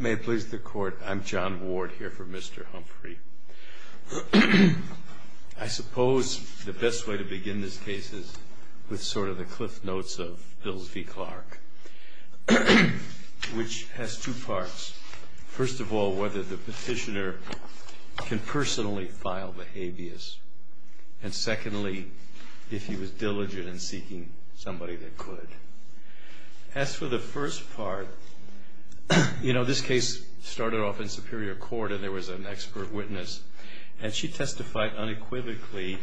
May it please the court, I'm John Ward here for Mr. Humphrey. I suppose the best way to begin this case is with sort of the cliff notes of Bills v. Clark, which has two parts. First of all, whether the petitioner can personally file the habeas. And secondly, if he was diligent in seeking somebody that could. As for the first part, you know this case started off in Superior Court and there was an expert witness. And she testified unequivocally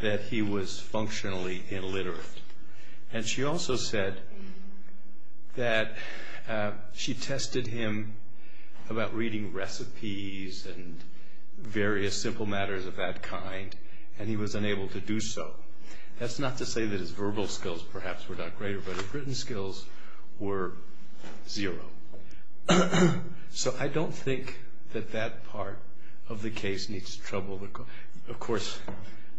that he was functionally illiterate. And she also said that she tested him about reading recipes and various simple matters of that kind. And he was unable to do so. That's not to say that his verbal skills perhaps were not greater, but his written skills were zero. So I don't think that that part of the case needs trouble. Of course,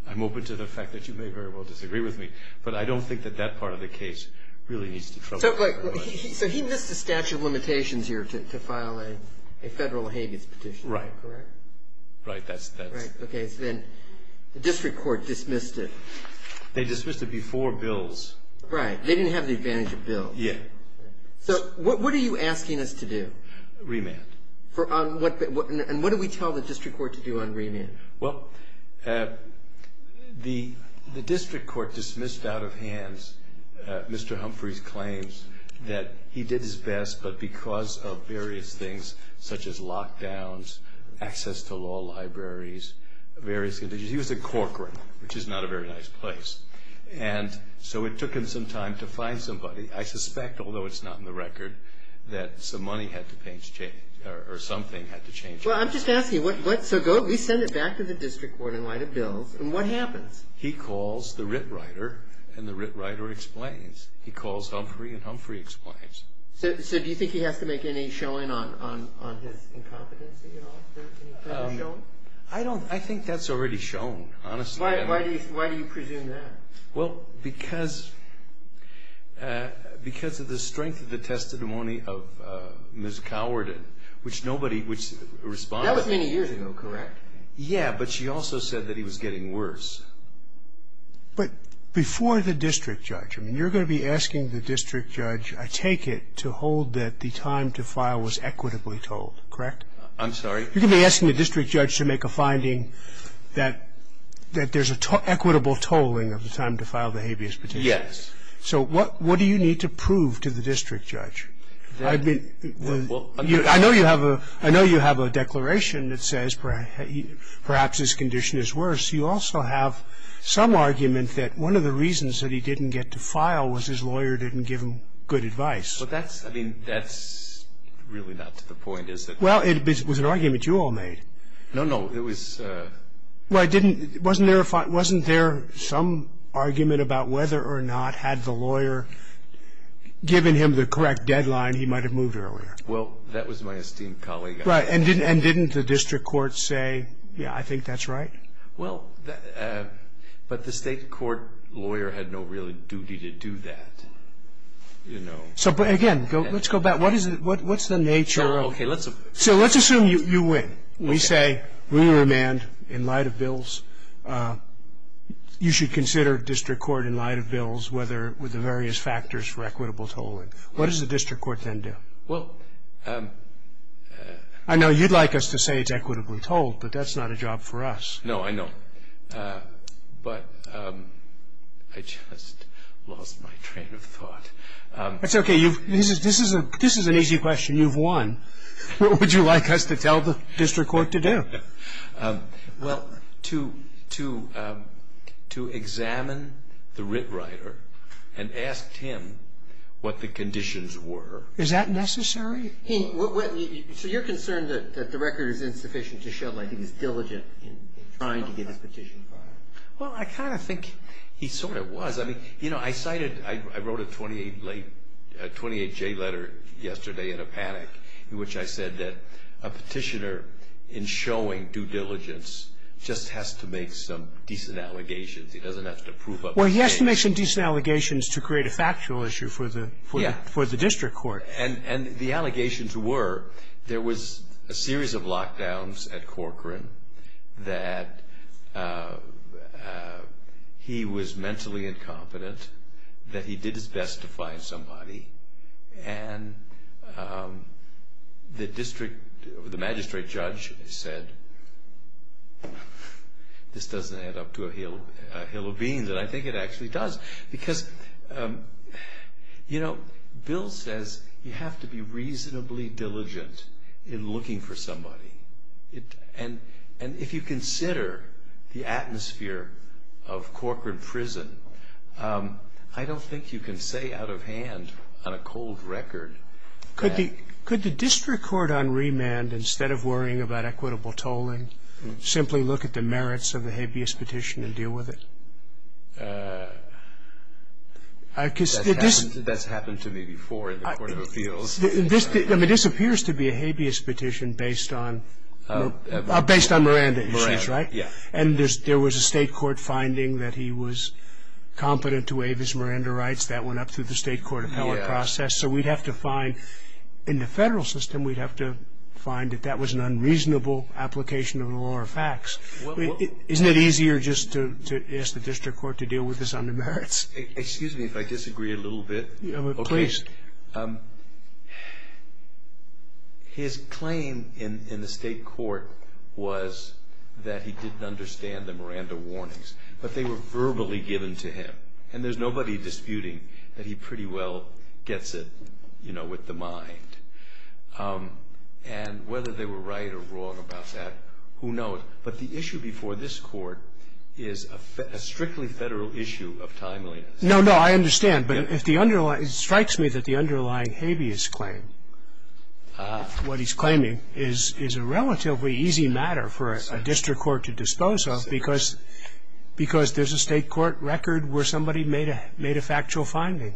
I'm open to the fact that you may very well disagree with me, but I don't think that that part of the case really needs to trouble. So he missed the statute of limitations here to file a federal habeas petition, correct? Right. That's that. Right. Okay. So then the district court dismissed it. They dismissed it before Bills. Right. They didn't have the advantage of Bills. Yeah. So what are you asking us to do? Remand. And what do we tell the district court to do on remand? Well, the district court dismissed out of hands Mr. Humphrey's claims that he did his best, but because of various things such as lockdowns, access to law libraries, various conditions. He was at Corcoran, which is not a very nice place. And so it took him some time to find somebody. I suspect, although it's not in the record, that some money had to change or something had to change. Well, I'm just asking, so we send it back to the district court in light of Bills, and what happens? He calls the writ writer, and the writ writer explains. He calls Humphrey, and Humphrey explains. So do you think he has to make any showing on his incompetency at all, any kind of showing? I don't. I think that's already shown, honestly. Why do you presume that? Well, because of the strength of the testimony of Ms. Cowardin, which nobody would respond to. That was many years ago, correct? Yeah, but she also said that he was getting worse. But before the district judge, I mean, you're going to be asking the district judge, I take it, to hold that the time to file was equitably told, correct? I'm sorry? You're going to be asking the district judge to make a finding that there's an equitable tolling of the time to file the habeas petition. Yes. So what do you need to prove to the district judge? I know you have a declaration that says perhaps his condition is worse. You also have some argument that one of the reasons that he didn't get to file was his lawyer didn't give him good advice. But that's, I mean, that's really not to the point, is it? Well, it was an argument you all made. No, no, it was. Well, wasn't there some argument about whether or not, had the lawyer given him the correct deadline, he might have moved earlier? Well, that was my esteemed colleague. Right, and didn't the district court say, yeah, I think that's right? Well, but the state court lawyer had no real duty to do that, you know. So, again, let's go back. What's the nature of it? So let's assume you win. We say we remand in light of bills. You should consider district court in light of bills with the various factors for equitable tolling. What does the district court then do? Well, I know you'd like us to say it's equitably tolled, but that's not a job for us. No, I know. But I just lost my train of thought. That's okay. This is an easy question. You've won. What would you like us to tell the district court to do? Well, to examine the writ writer and ask him what the conditions were. Is that necessary? So you're concerned that the record is insufficient to show that he was diligent in trying to get his petition filed? Well, I kind of think he sort of was. I mean, you know, I cited, I wrote a 28-J letter yesterday in a panic in which I said that a petitioner, in showing due diligence, just has to make some decent allegations. He doesn't have to prove up a case. Well, he has to make some decent allegations to create a factual issue for the district court. And the allegations were there was a series of lockdowns at Corcoran, that he was mentally incompetent, that he did his best to find somebody, and the magistrate judge said, this doesn't add up to a hill of beans. And I think it actually does. Because, you know, Bill says you have to be reasonably diligent in looking for somebody. And if you consider the atmosphere of Corcoran prison, I don't think you can say out of hand on a cold record. Could the district court on remand, instead of worrying about equitable tolling, simply look at the merits of the habeas petition and deal with it? That's happened to me before in the court of appeals. I mean, this appears to be a habeas petition based on Miranda, you said, right? Yeah. And there was a state court finding that he was competent to waive his Miranda rights. That went up through the state court appellate process. So we'd have to find, in the federal system, we'd have to find that that was an unreasonable application of the law or facts. Isn't it easier just to ask the district court to deal with this on the merits? Excuse me if I disagree a little bit. Please. His claim in the state court was that he didn't understand the Miranda warnings, but they were verbally given to him. And there's nobody disputing that he pretty well gets it, you know, with the mind. And whether they were right or wrong about that, who knows? But the issue before this court is a strictly federal issue of timeliness. No, no, I understand. But it strikes me that the underlying habeas claim, what he's claiming, is a relatively easy matter for a district court to dispose of because there's a state court record where somebody made a factual finding.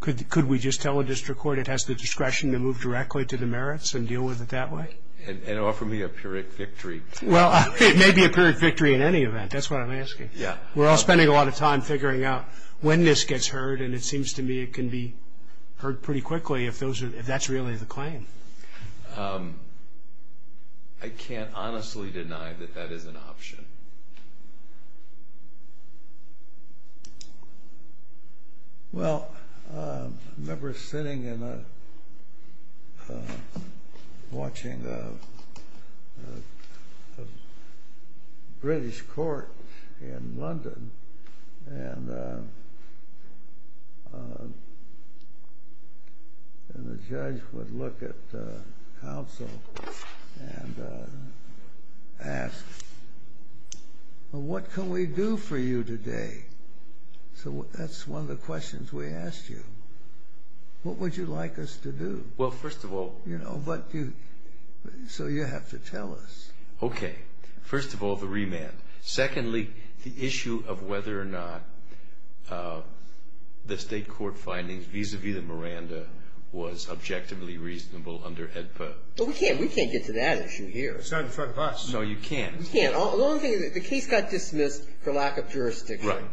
Could we just tell a district court it has the discretion to move directly to the merits and deal with it that way? And offer me a pyrrhic victory. Well, it may be a pyrrhic victory in any event. That's what I'm asking. We're all spending a lot of time figuring out when this gets heard, and it seems to me it can be heard pretty quickly if that's really the claim. I can't honestly deny that that is an option. Well, I remember sitting and watching a British court in London, and the judge would look at counsel and ask, well, what can we do for you today? So that's one of the questions we asked you. What would you like us to do? Well, first of all... You know, so you have to tell us. Okay. First of all, the remand. Secondly, the issue of whether or not the state court findings vis-à-vis the Miranda was objectively reasonable under HEDPA. Well, we can't get to that issue here. It's not in front of us. No, you can't. We can't. The case got dismissed for lack of jurisdiction. Right.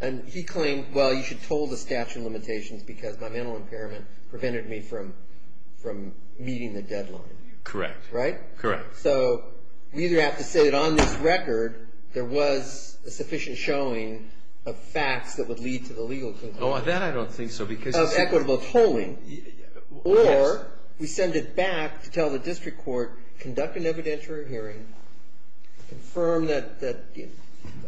And he claimed, well, you should toll the statute of limitations because my mental impairment prevented me from meeting the deadline. Correct. Right? Correct. So we either have to say that on this record there was a sufficient showing of facts that would lead to the legal conclusion of equitable tolling, or we send it back to tell the district court, conduct an evidentiary hearing, confirm that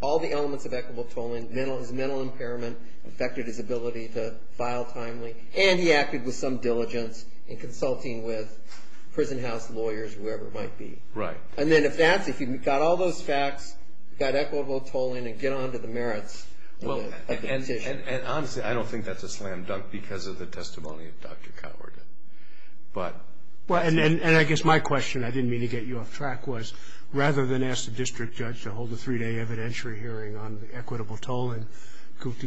all the elements of equitable tolling, his mental impairment, affected his ability to file timely, and he acted with some diligence in consulting with prison house lawyers or whoever it might be. Right. And then if that's the case, we've got all those facts, we've got equitable tolling, and get on to the merits of the petition. And honestly, I don't think that's a slam dunk because of the testimony of Dr. Coward. And I guess my question, I didn't mean to get you off track, was rather than ask the district judge to hold a three-day evidentiary hearing on equitable tolling,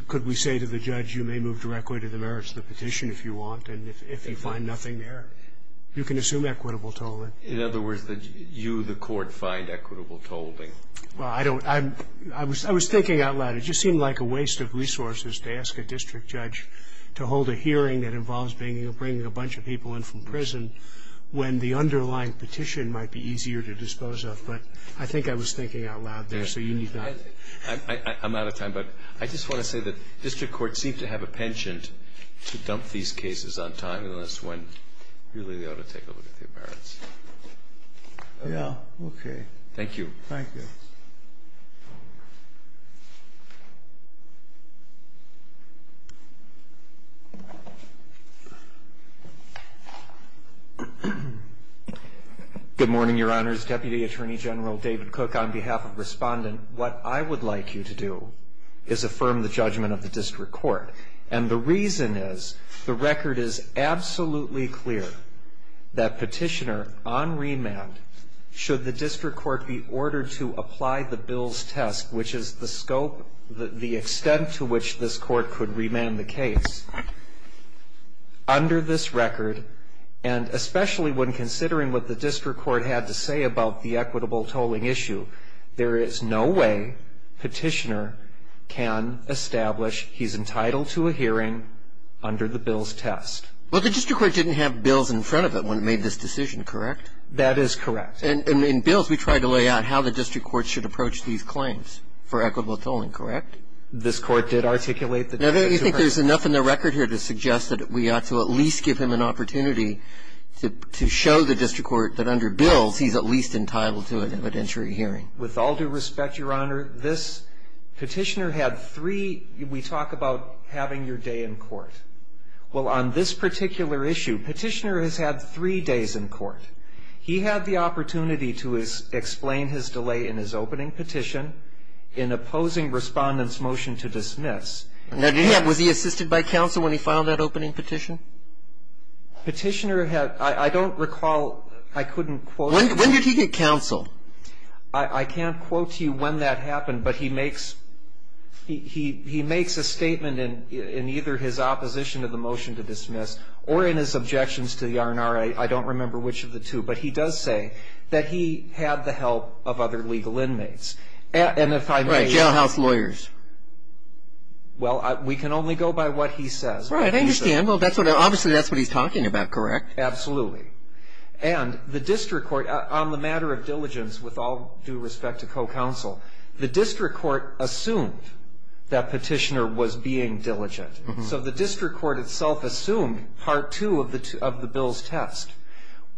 could we say to the judge, you may move directly to the merits of the petition if you want and if you find nothing there? You can assume equitable tolling. In other words, you, the court, find equitable tolling. Well, I don't. I was thinking out loud. It just seemed like a waste of resources to ask a district judge to hold a hearing that involves bringing a bunch of people in from prison when the underlying petition might be easier to dispose of. But I think I was thinking out loud there, so you need not. I'm out of time, but I just want to say that district courts seem to have a penchant to dump these cases on time unless when really they ought to take a look at the appearance. Yeah. Thank you. Thank you. Good morning, Your Honors. Deputy Attorney General David Cook, on behalf of Respondent, what I would like you to do is affirm the judgment of the district court. And the reason is the record is absolutely clear that Petitioner, on remand, should the district court be ordered to apply the bill's test, which is the scope, the extent to which this court could remand the case, under this record, and especially when considering what the district court had to say about the equitable tolling issue, there is no way Petitioner can establish he's entitled to a hearing under the bill's test. Well, the district court didn't have bills in front of it when it made this decision, correct? That is correct. And in bills, we try to lay out how the district court should approach these claims for equitable tolling, correct? This court did articulate the district court. Now, you think there's enough in the record here to suggest that we ought to at least give him an opportunity to show the district court that under bills, he's at least entitled to an evidentiary hearing. With all due respect, Your Honor, this Petitioner had three, we talk about having your day in court. Well, on this particular issue, Petitioner has had three days in court. He had the opportunity to explain his delay in his opening petition in opposing Respondent's motion to dismiss. Now, did he have, was he assisted by counsel when he filed that opening petition? Petitioner had, I don't recall, I couldn't quote. When did he get counsel? I can't quote to you when that happened, but he makes a statement in either his opposition to the motion to dismiss or in his objections to the R&R, I don't remember which of the two. But he does say that he had the help of other legal inmates. Right, jailhouse lawyers. Well, we can only go by what he says. Right, I understand. Well, obviously that's what he's talking about, correct? Absolutely. And the district court, on the matter of diligence, with all due respect to co-counsel, the district court assumed that Petitioner was being diligent. So the district court itself assumed part two of the bill's test.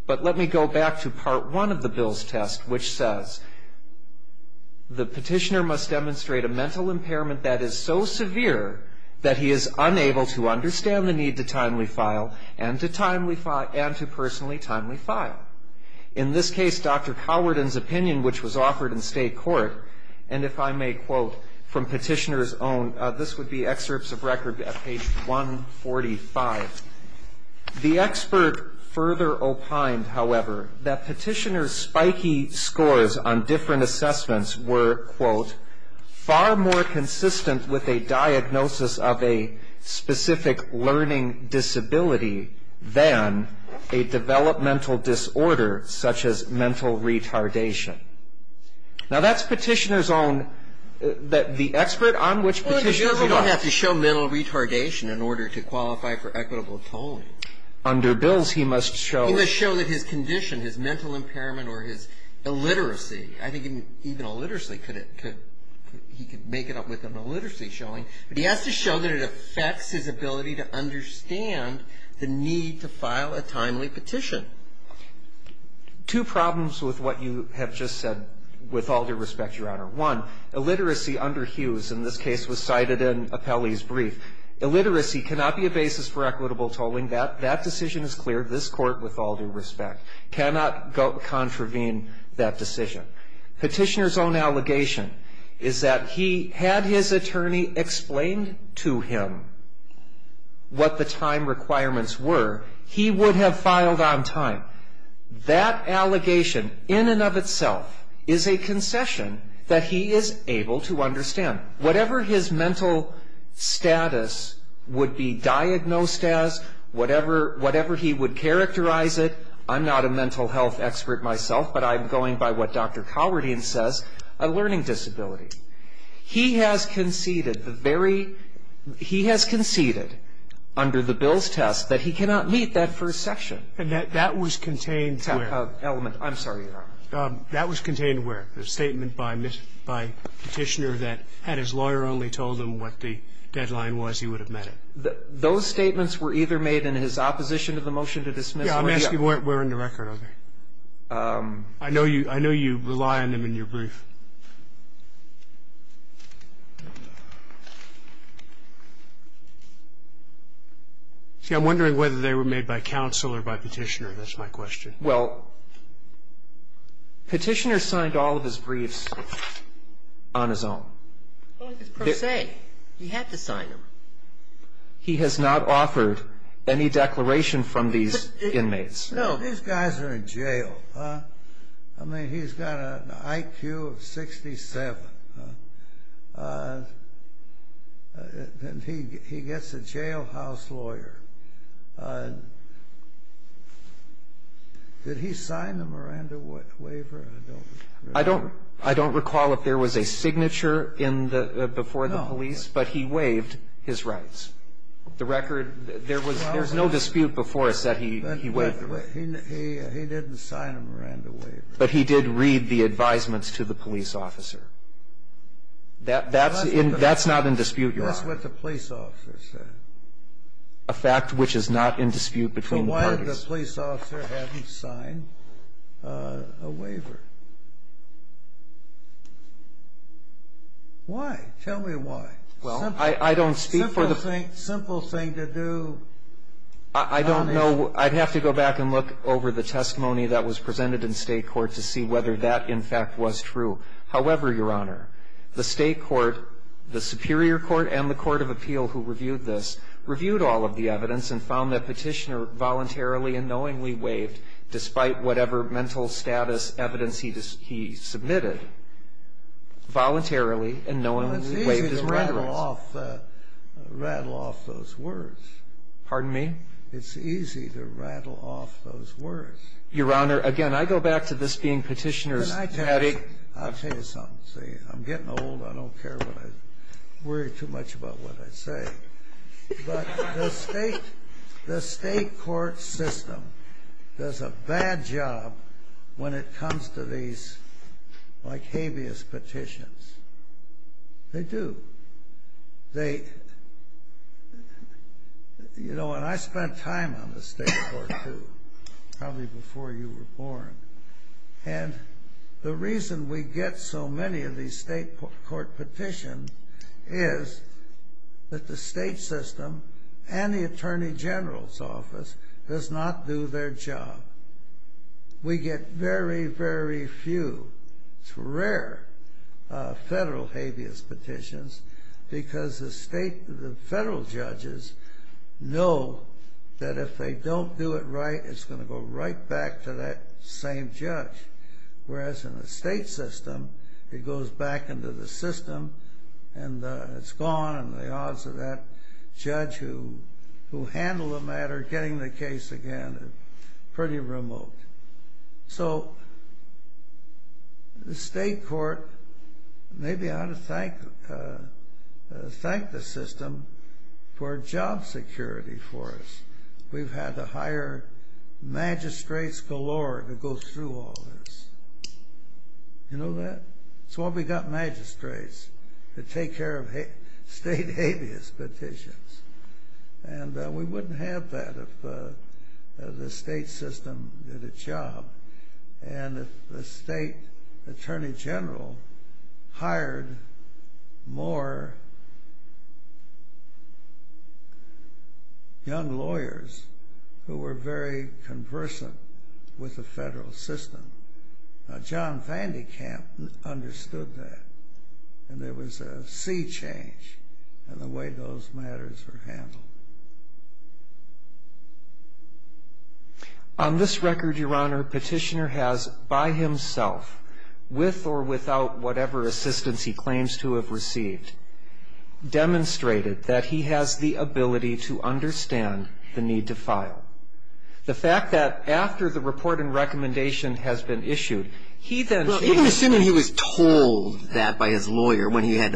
But let me go back to part one of the bill's test, which says the Petitioner must demonstrate a mental impairment that is so severe that he is unable to understand the need to timely file and to personally timely file. In this case, Dr. Howarden's opinion, which was offered in state court, and if I may quote from Petitioner's own, this would be excerpts of record at page 145. The expert further opined, however, that Petitioner's spiky scores on different assessments were, quote, far more consistent with a diagnosis of a specific learning disability than a developmental disorder such as mental retardation. Now, that's Petitioner's own. The expert on which Petitioner's own. Well, he doesn't have to show mental retardation in order to qualify for equitable tolling. Under bills, he must show. He must show that his condition, his mental impairment or his illiteracy, I think even illiteracy, he could make it up with an illiteracy showing. But he has to show that it affects his ability to understand the need to file a timely petition. Two problems with what you have just said, with all due respect, Your Honor. One, illiteracy under Hughes in this case was cited in Appellee's brief. Illiteracy cannot be a basis for equitable tolling. That decision is clear. This Court, with all due respect, cannot contravene that decision. Petitioner's own allegation is that he had his attorney explain to him what the time requirements were. He would have filed on time. That allegation in and of itself is a concession that he is able to understand. Whatever his mental status would be diagnosed as, whatever he would characterize it, I'm not a mental health expert myself, but I'm going by what Dr. Calvertian says, a learning disability. He has conceded the very he has conceded under the bill's test that he cannot meet that first section. And that was contained where? Element. I'm sorry, Your Honor. That was contained where? The statement by Petitioner that had his lawyer only told him what the deadline was, he would have met it. Those statements were either made in his opposition to the motion to dismiss or he up to it. Yeah. I'm asking where in the record, okay? I know you rely on them in your brief. See, I'm wondering whether they were made by counsel or by Petitioner. That's my question. Well, Petitioner signed all of his briefs on his own. Per se. He had to sign them. He has not offered any declaration from these inmates? No. These guys are in jail. I mean, he's got an IQ of 67. He gets a jailhouse lawyer. Did he sign the Miranda waiver? I don't recall if there was a signature before the police. No. But he waived his rights. The record, there was no dispute before us that he waived them. He didn't sign a Miranda waiver. But he did read the advisements to the police officer. That's not in dispute, Your Honor. That's what the police officer said. A fact which is not in dispute between the parties. But the police officer hadn't signed a waiver. Why? Tell me why. Simple thing to do. I don't know. I'd have to go back and look over the testimony that was presented in state court to see whether that, in fact, was true. However, Your Honor, the state court, the Superior Court, and the Court of Appeal, who reviewed this, and found that Petitioner voluntarily and knowingly waived, despite whatever mental status evidence he submitted, voluntarily and knowingly Well, it's easy to rattle off those words. Pardon me? It's easy to rattle off those words. Your Honor, again, I go back to this being Petitioner's attitude. I'll tell you something. I'm getting old. I don't care. I worry too much about what I say. But the state court system does a bad job when it comes to these, like, habeas petitions. They do. You know, and I spent time on the state court, too, probably before you were born. And the reason we get so many of these state court petitions is that the state system and the Attorney General's office does not do their job. We get very, very few. It's rare, federal habeas petitions, because the federal judges know that if they don't do it right, it's going to go right back to that same judge. Whereas in the state system, it goes back into the system, and it's gone, and the odds of that judge who handled the matter getting the case again are pretty remote. So the state court, maybe I ought to thank the system for job security for us. We've had to hire magistrates galore to go through all this. You know that? That's why we got magistrates to take care of state habeas petitions. And we wouldn't have that if the state system did its job. And the state Attorney General hired more young lawyers who were very conversant with the federal system. Now, John Van de Kamp understood that, and there was a sea change in the way those matters were handled. On this record, Your Honor, Petitioner has, by himself, with or without whatever assistance he claims to have received, demonstrated that he has the ability to understand the need to file. The fact that after the report and recommendation has been issued, he then seems to be able to understand the need to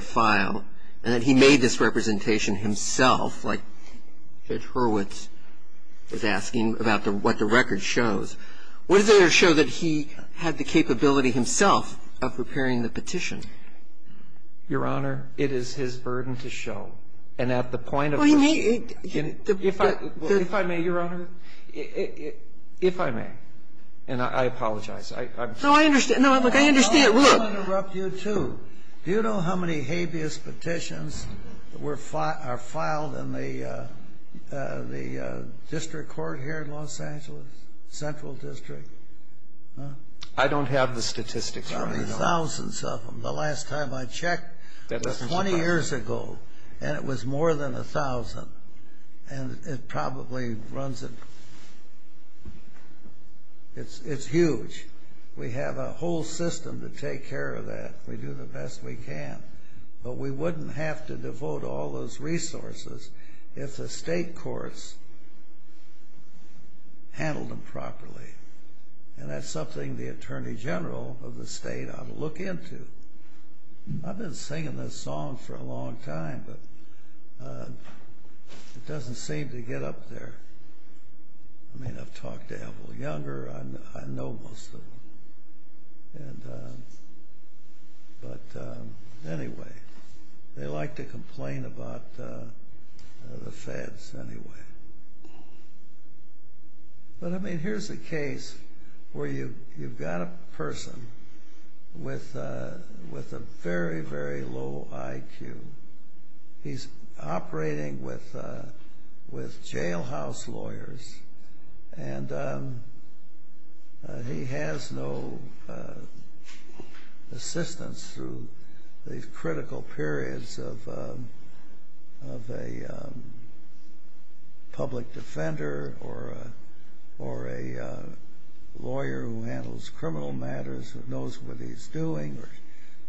file. And that he made this representation himself, like Judge Hurwitz was asking about what the record shows. What does it show that he had the capability himself of preparing the petition? Your Honor, it is his burden to show. And at the point of the question you need to get. If I may, Your Honor. If I may. And I apologize. No, I understand. Look, I understand. Look. I don't want to interrupt you, too. Do you know how many habeas petitions are filed in the district court here in Los Angeles? Central District? I don't have the statistics, Your Honor. Probably thousands of them. The last time I checked was 20 years ago, and it was more than a thousand. And it probably runs in. It's huge. We have a whole system to take care of that. We do the best we can. But we wouldn't have to devote all those resources if the state courts handled them properly. And that's something the Attorney General of the state ought to look into. I've been singing this song for a long time, but it doesn't seem to get up there. I mean, I've talked to Elville Younger. I know most of him. But anyway, they like to complain about the feds anyway. But, I mean, here's a case where you've got a person with a very, very low IQ. He's operating with jailhouse lawyers, and he has no assistance through these critical periods of a public defender or a lawyer who handles criminal matters who knows what he's doing or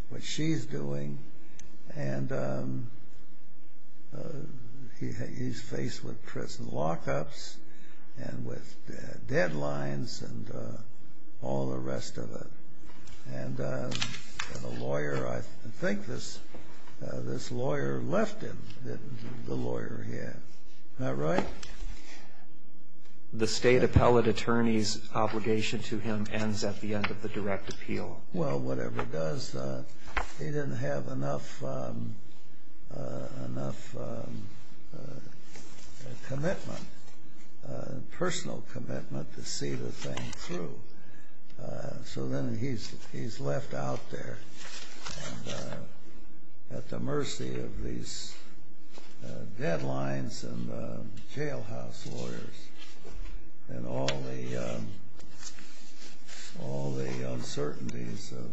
what she's doing. And he's faced with prison lockups and with deadlines and all the rest of it. And the lawyer, I think this lawyer left him, the lawyer he had. Isn't that right? The state appellate attorney's obligation to him ends at the end of the direct appeal. Well, whatever it does, he didn't have enough commitment, personal commitment to see the thing through. So then he's left out there at the mercy of these deadlines and jailhouse lawyers and all the uncertainties of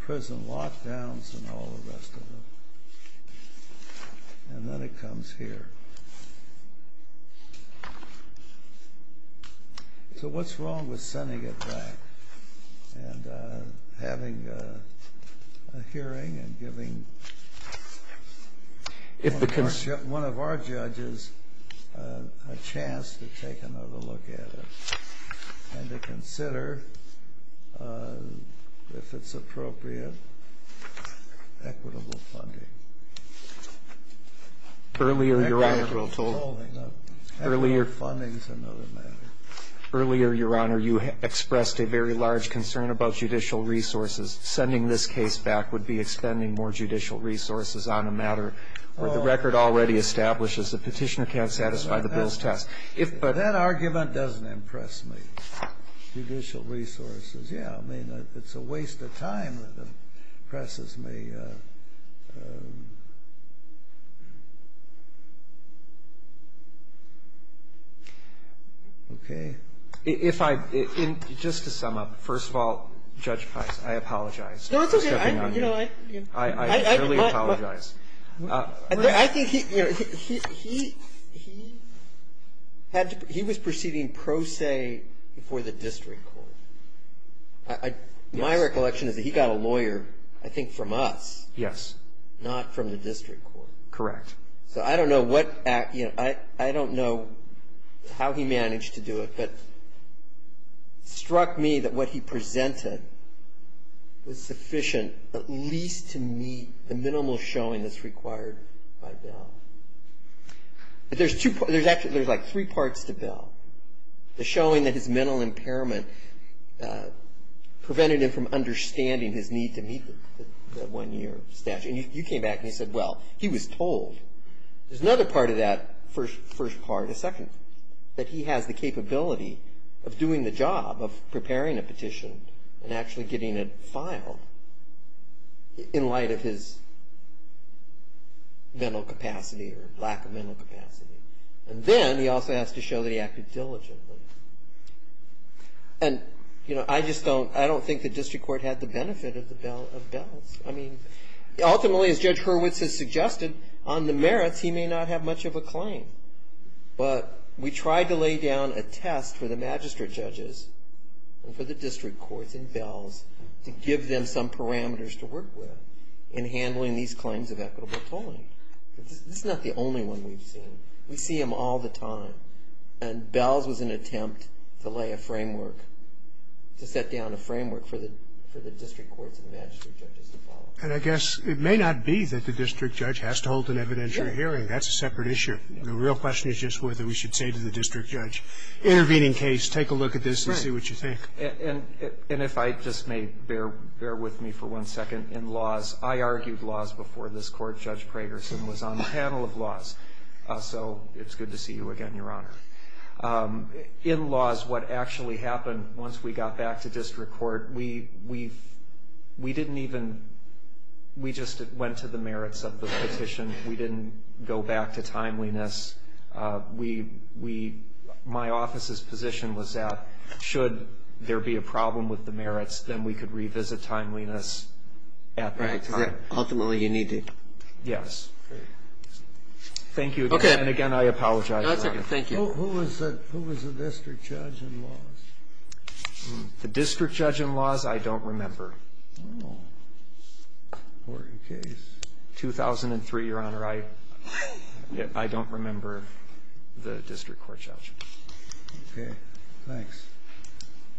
prison lockdowns and all the rest of it. And then it comes here. So what's wrong with sending it back and having a hearing and giving one of our judges a chance to take another look at it and to consider, if it's appropriate, equitable funding? Earlier, Your Honor, you expressed a very large concern about judicial resources. Sending this case back would be expending more judicial resources on a matter where the record already establishes the petitioner can't satisfy the bill's test. That argument doesn't impress me. Judicial resources, yeah, I mean, it's a waste of time that impresses me. Okay? If I – just to sum up, first of all, Judge Price, I apologize. No, it's okay. I really apologize. I think he – he was proceeding pro se before the district court. My recollection is that he got a lawyer, I think, from us. Yes. Not from the district court. Correct. So I don't know what – I don't know how he managed to do it. But it struck me that what he presented was sufficient at least to meet the minimal showing that's required by Bill. But there's two – there's actually – there's, like, three parts to Bill. The showing that his mental impairment prevented him from understanding his need to meet the one-year statute. And you came back and you said, well, he was told. There's another part of that first part, a second, that he has the capability of doing the job of preparing a petition and actually getting it filed in light of his mental capacity or lack of mental capacity. And then he also has to show that he acted diligently. And, you know, I just don't – I don't think the district court had the benefit of Bill's. I mean, ultimately, as Judge Hurwitz has suggested, on the merits he may not have much of a claim. But we tried to lay down a test for the magistrate judges and for the district courts and Bell's to give them some parameters to work with in handling these claims of equitable tolling. This is not the only one we've seen. We see them all the time. And Bell's was an attempt to lay a framework, to set down a framework for the district courts and magistrate judges to follow. And I guess it may not be that the district judge has to hold an evidentiary hearing. That's a separate issue. The real question is just whether we should say to the district judge, intervening case, take a look at this and see what you think. And if I just may, bear with me for one second. In laws, I argued laws before this court. Judge Pragerson was on the panel of laws. So it's good to see you again, Your Honor. In laws, what actually happened once we got back to district court, we didn't even – we just went to the merits of the petition. We didn't go back to timeliness. We – my office's position was that should there be a problem with the merits, then we could revisit timeliness at that time. Right. Ultimately, you need to. Yes. Great. Thank you again. Okay. And again, I apologize, Your Honor. No, it's okay. Thank you. Who was the district judge in laws? The district judge in laws, I don't remember. Oh. 2003, Your Honor. I don't remember the district court judge. Okay. Thanks.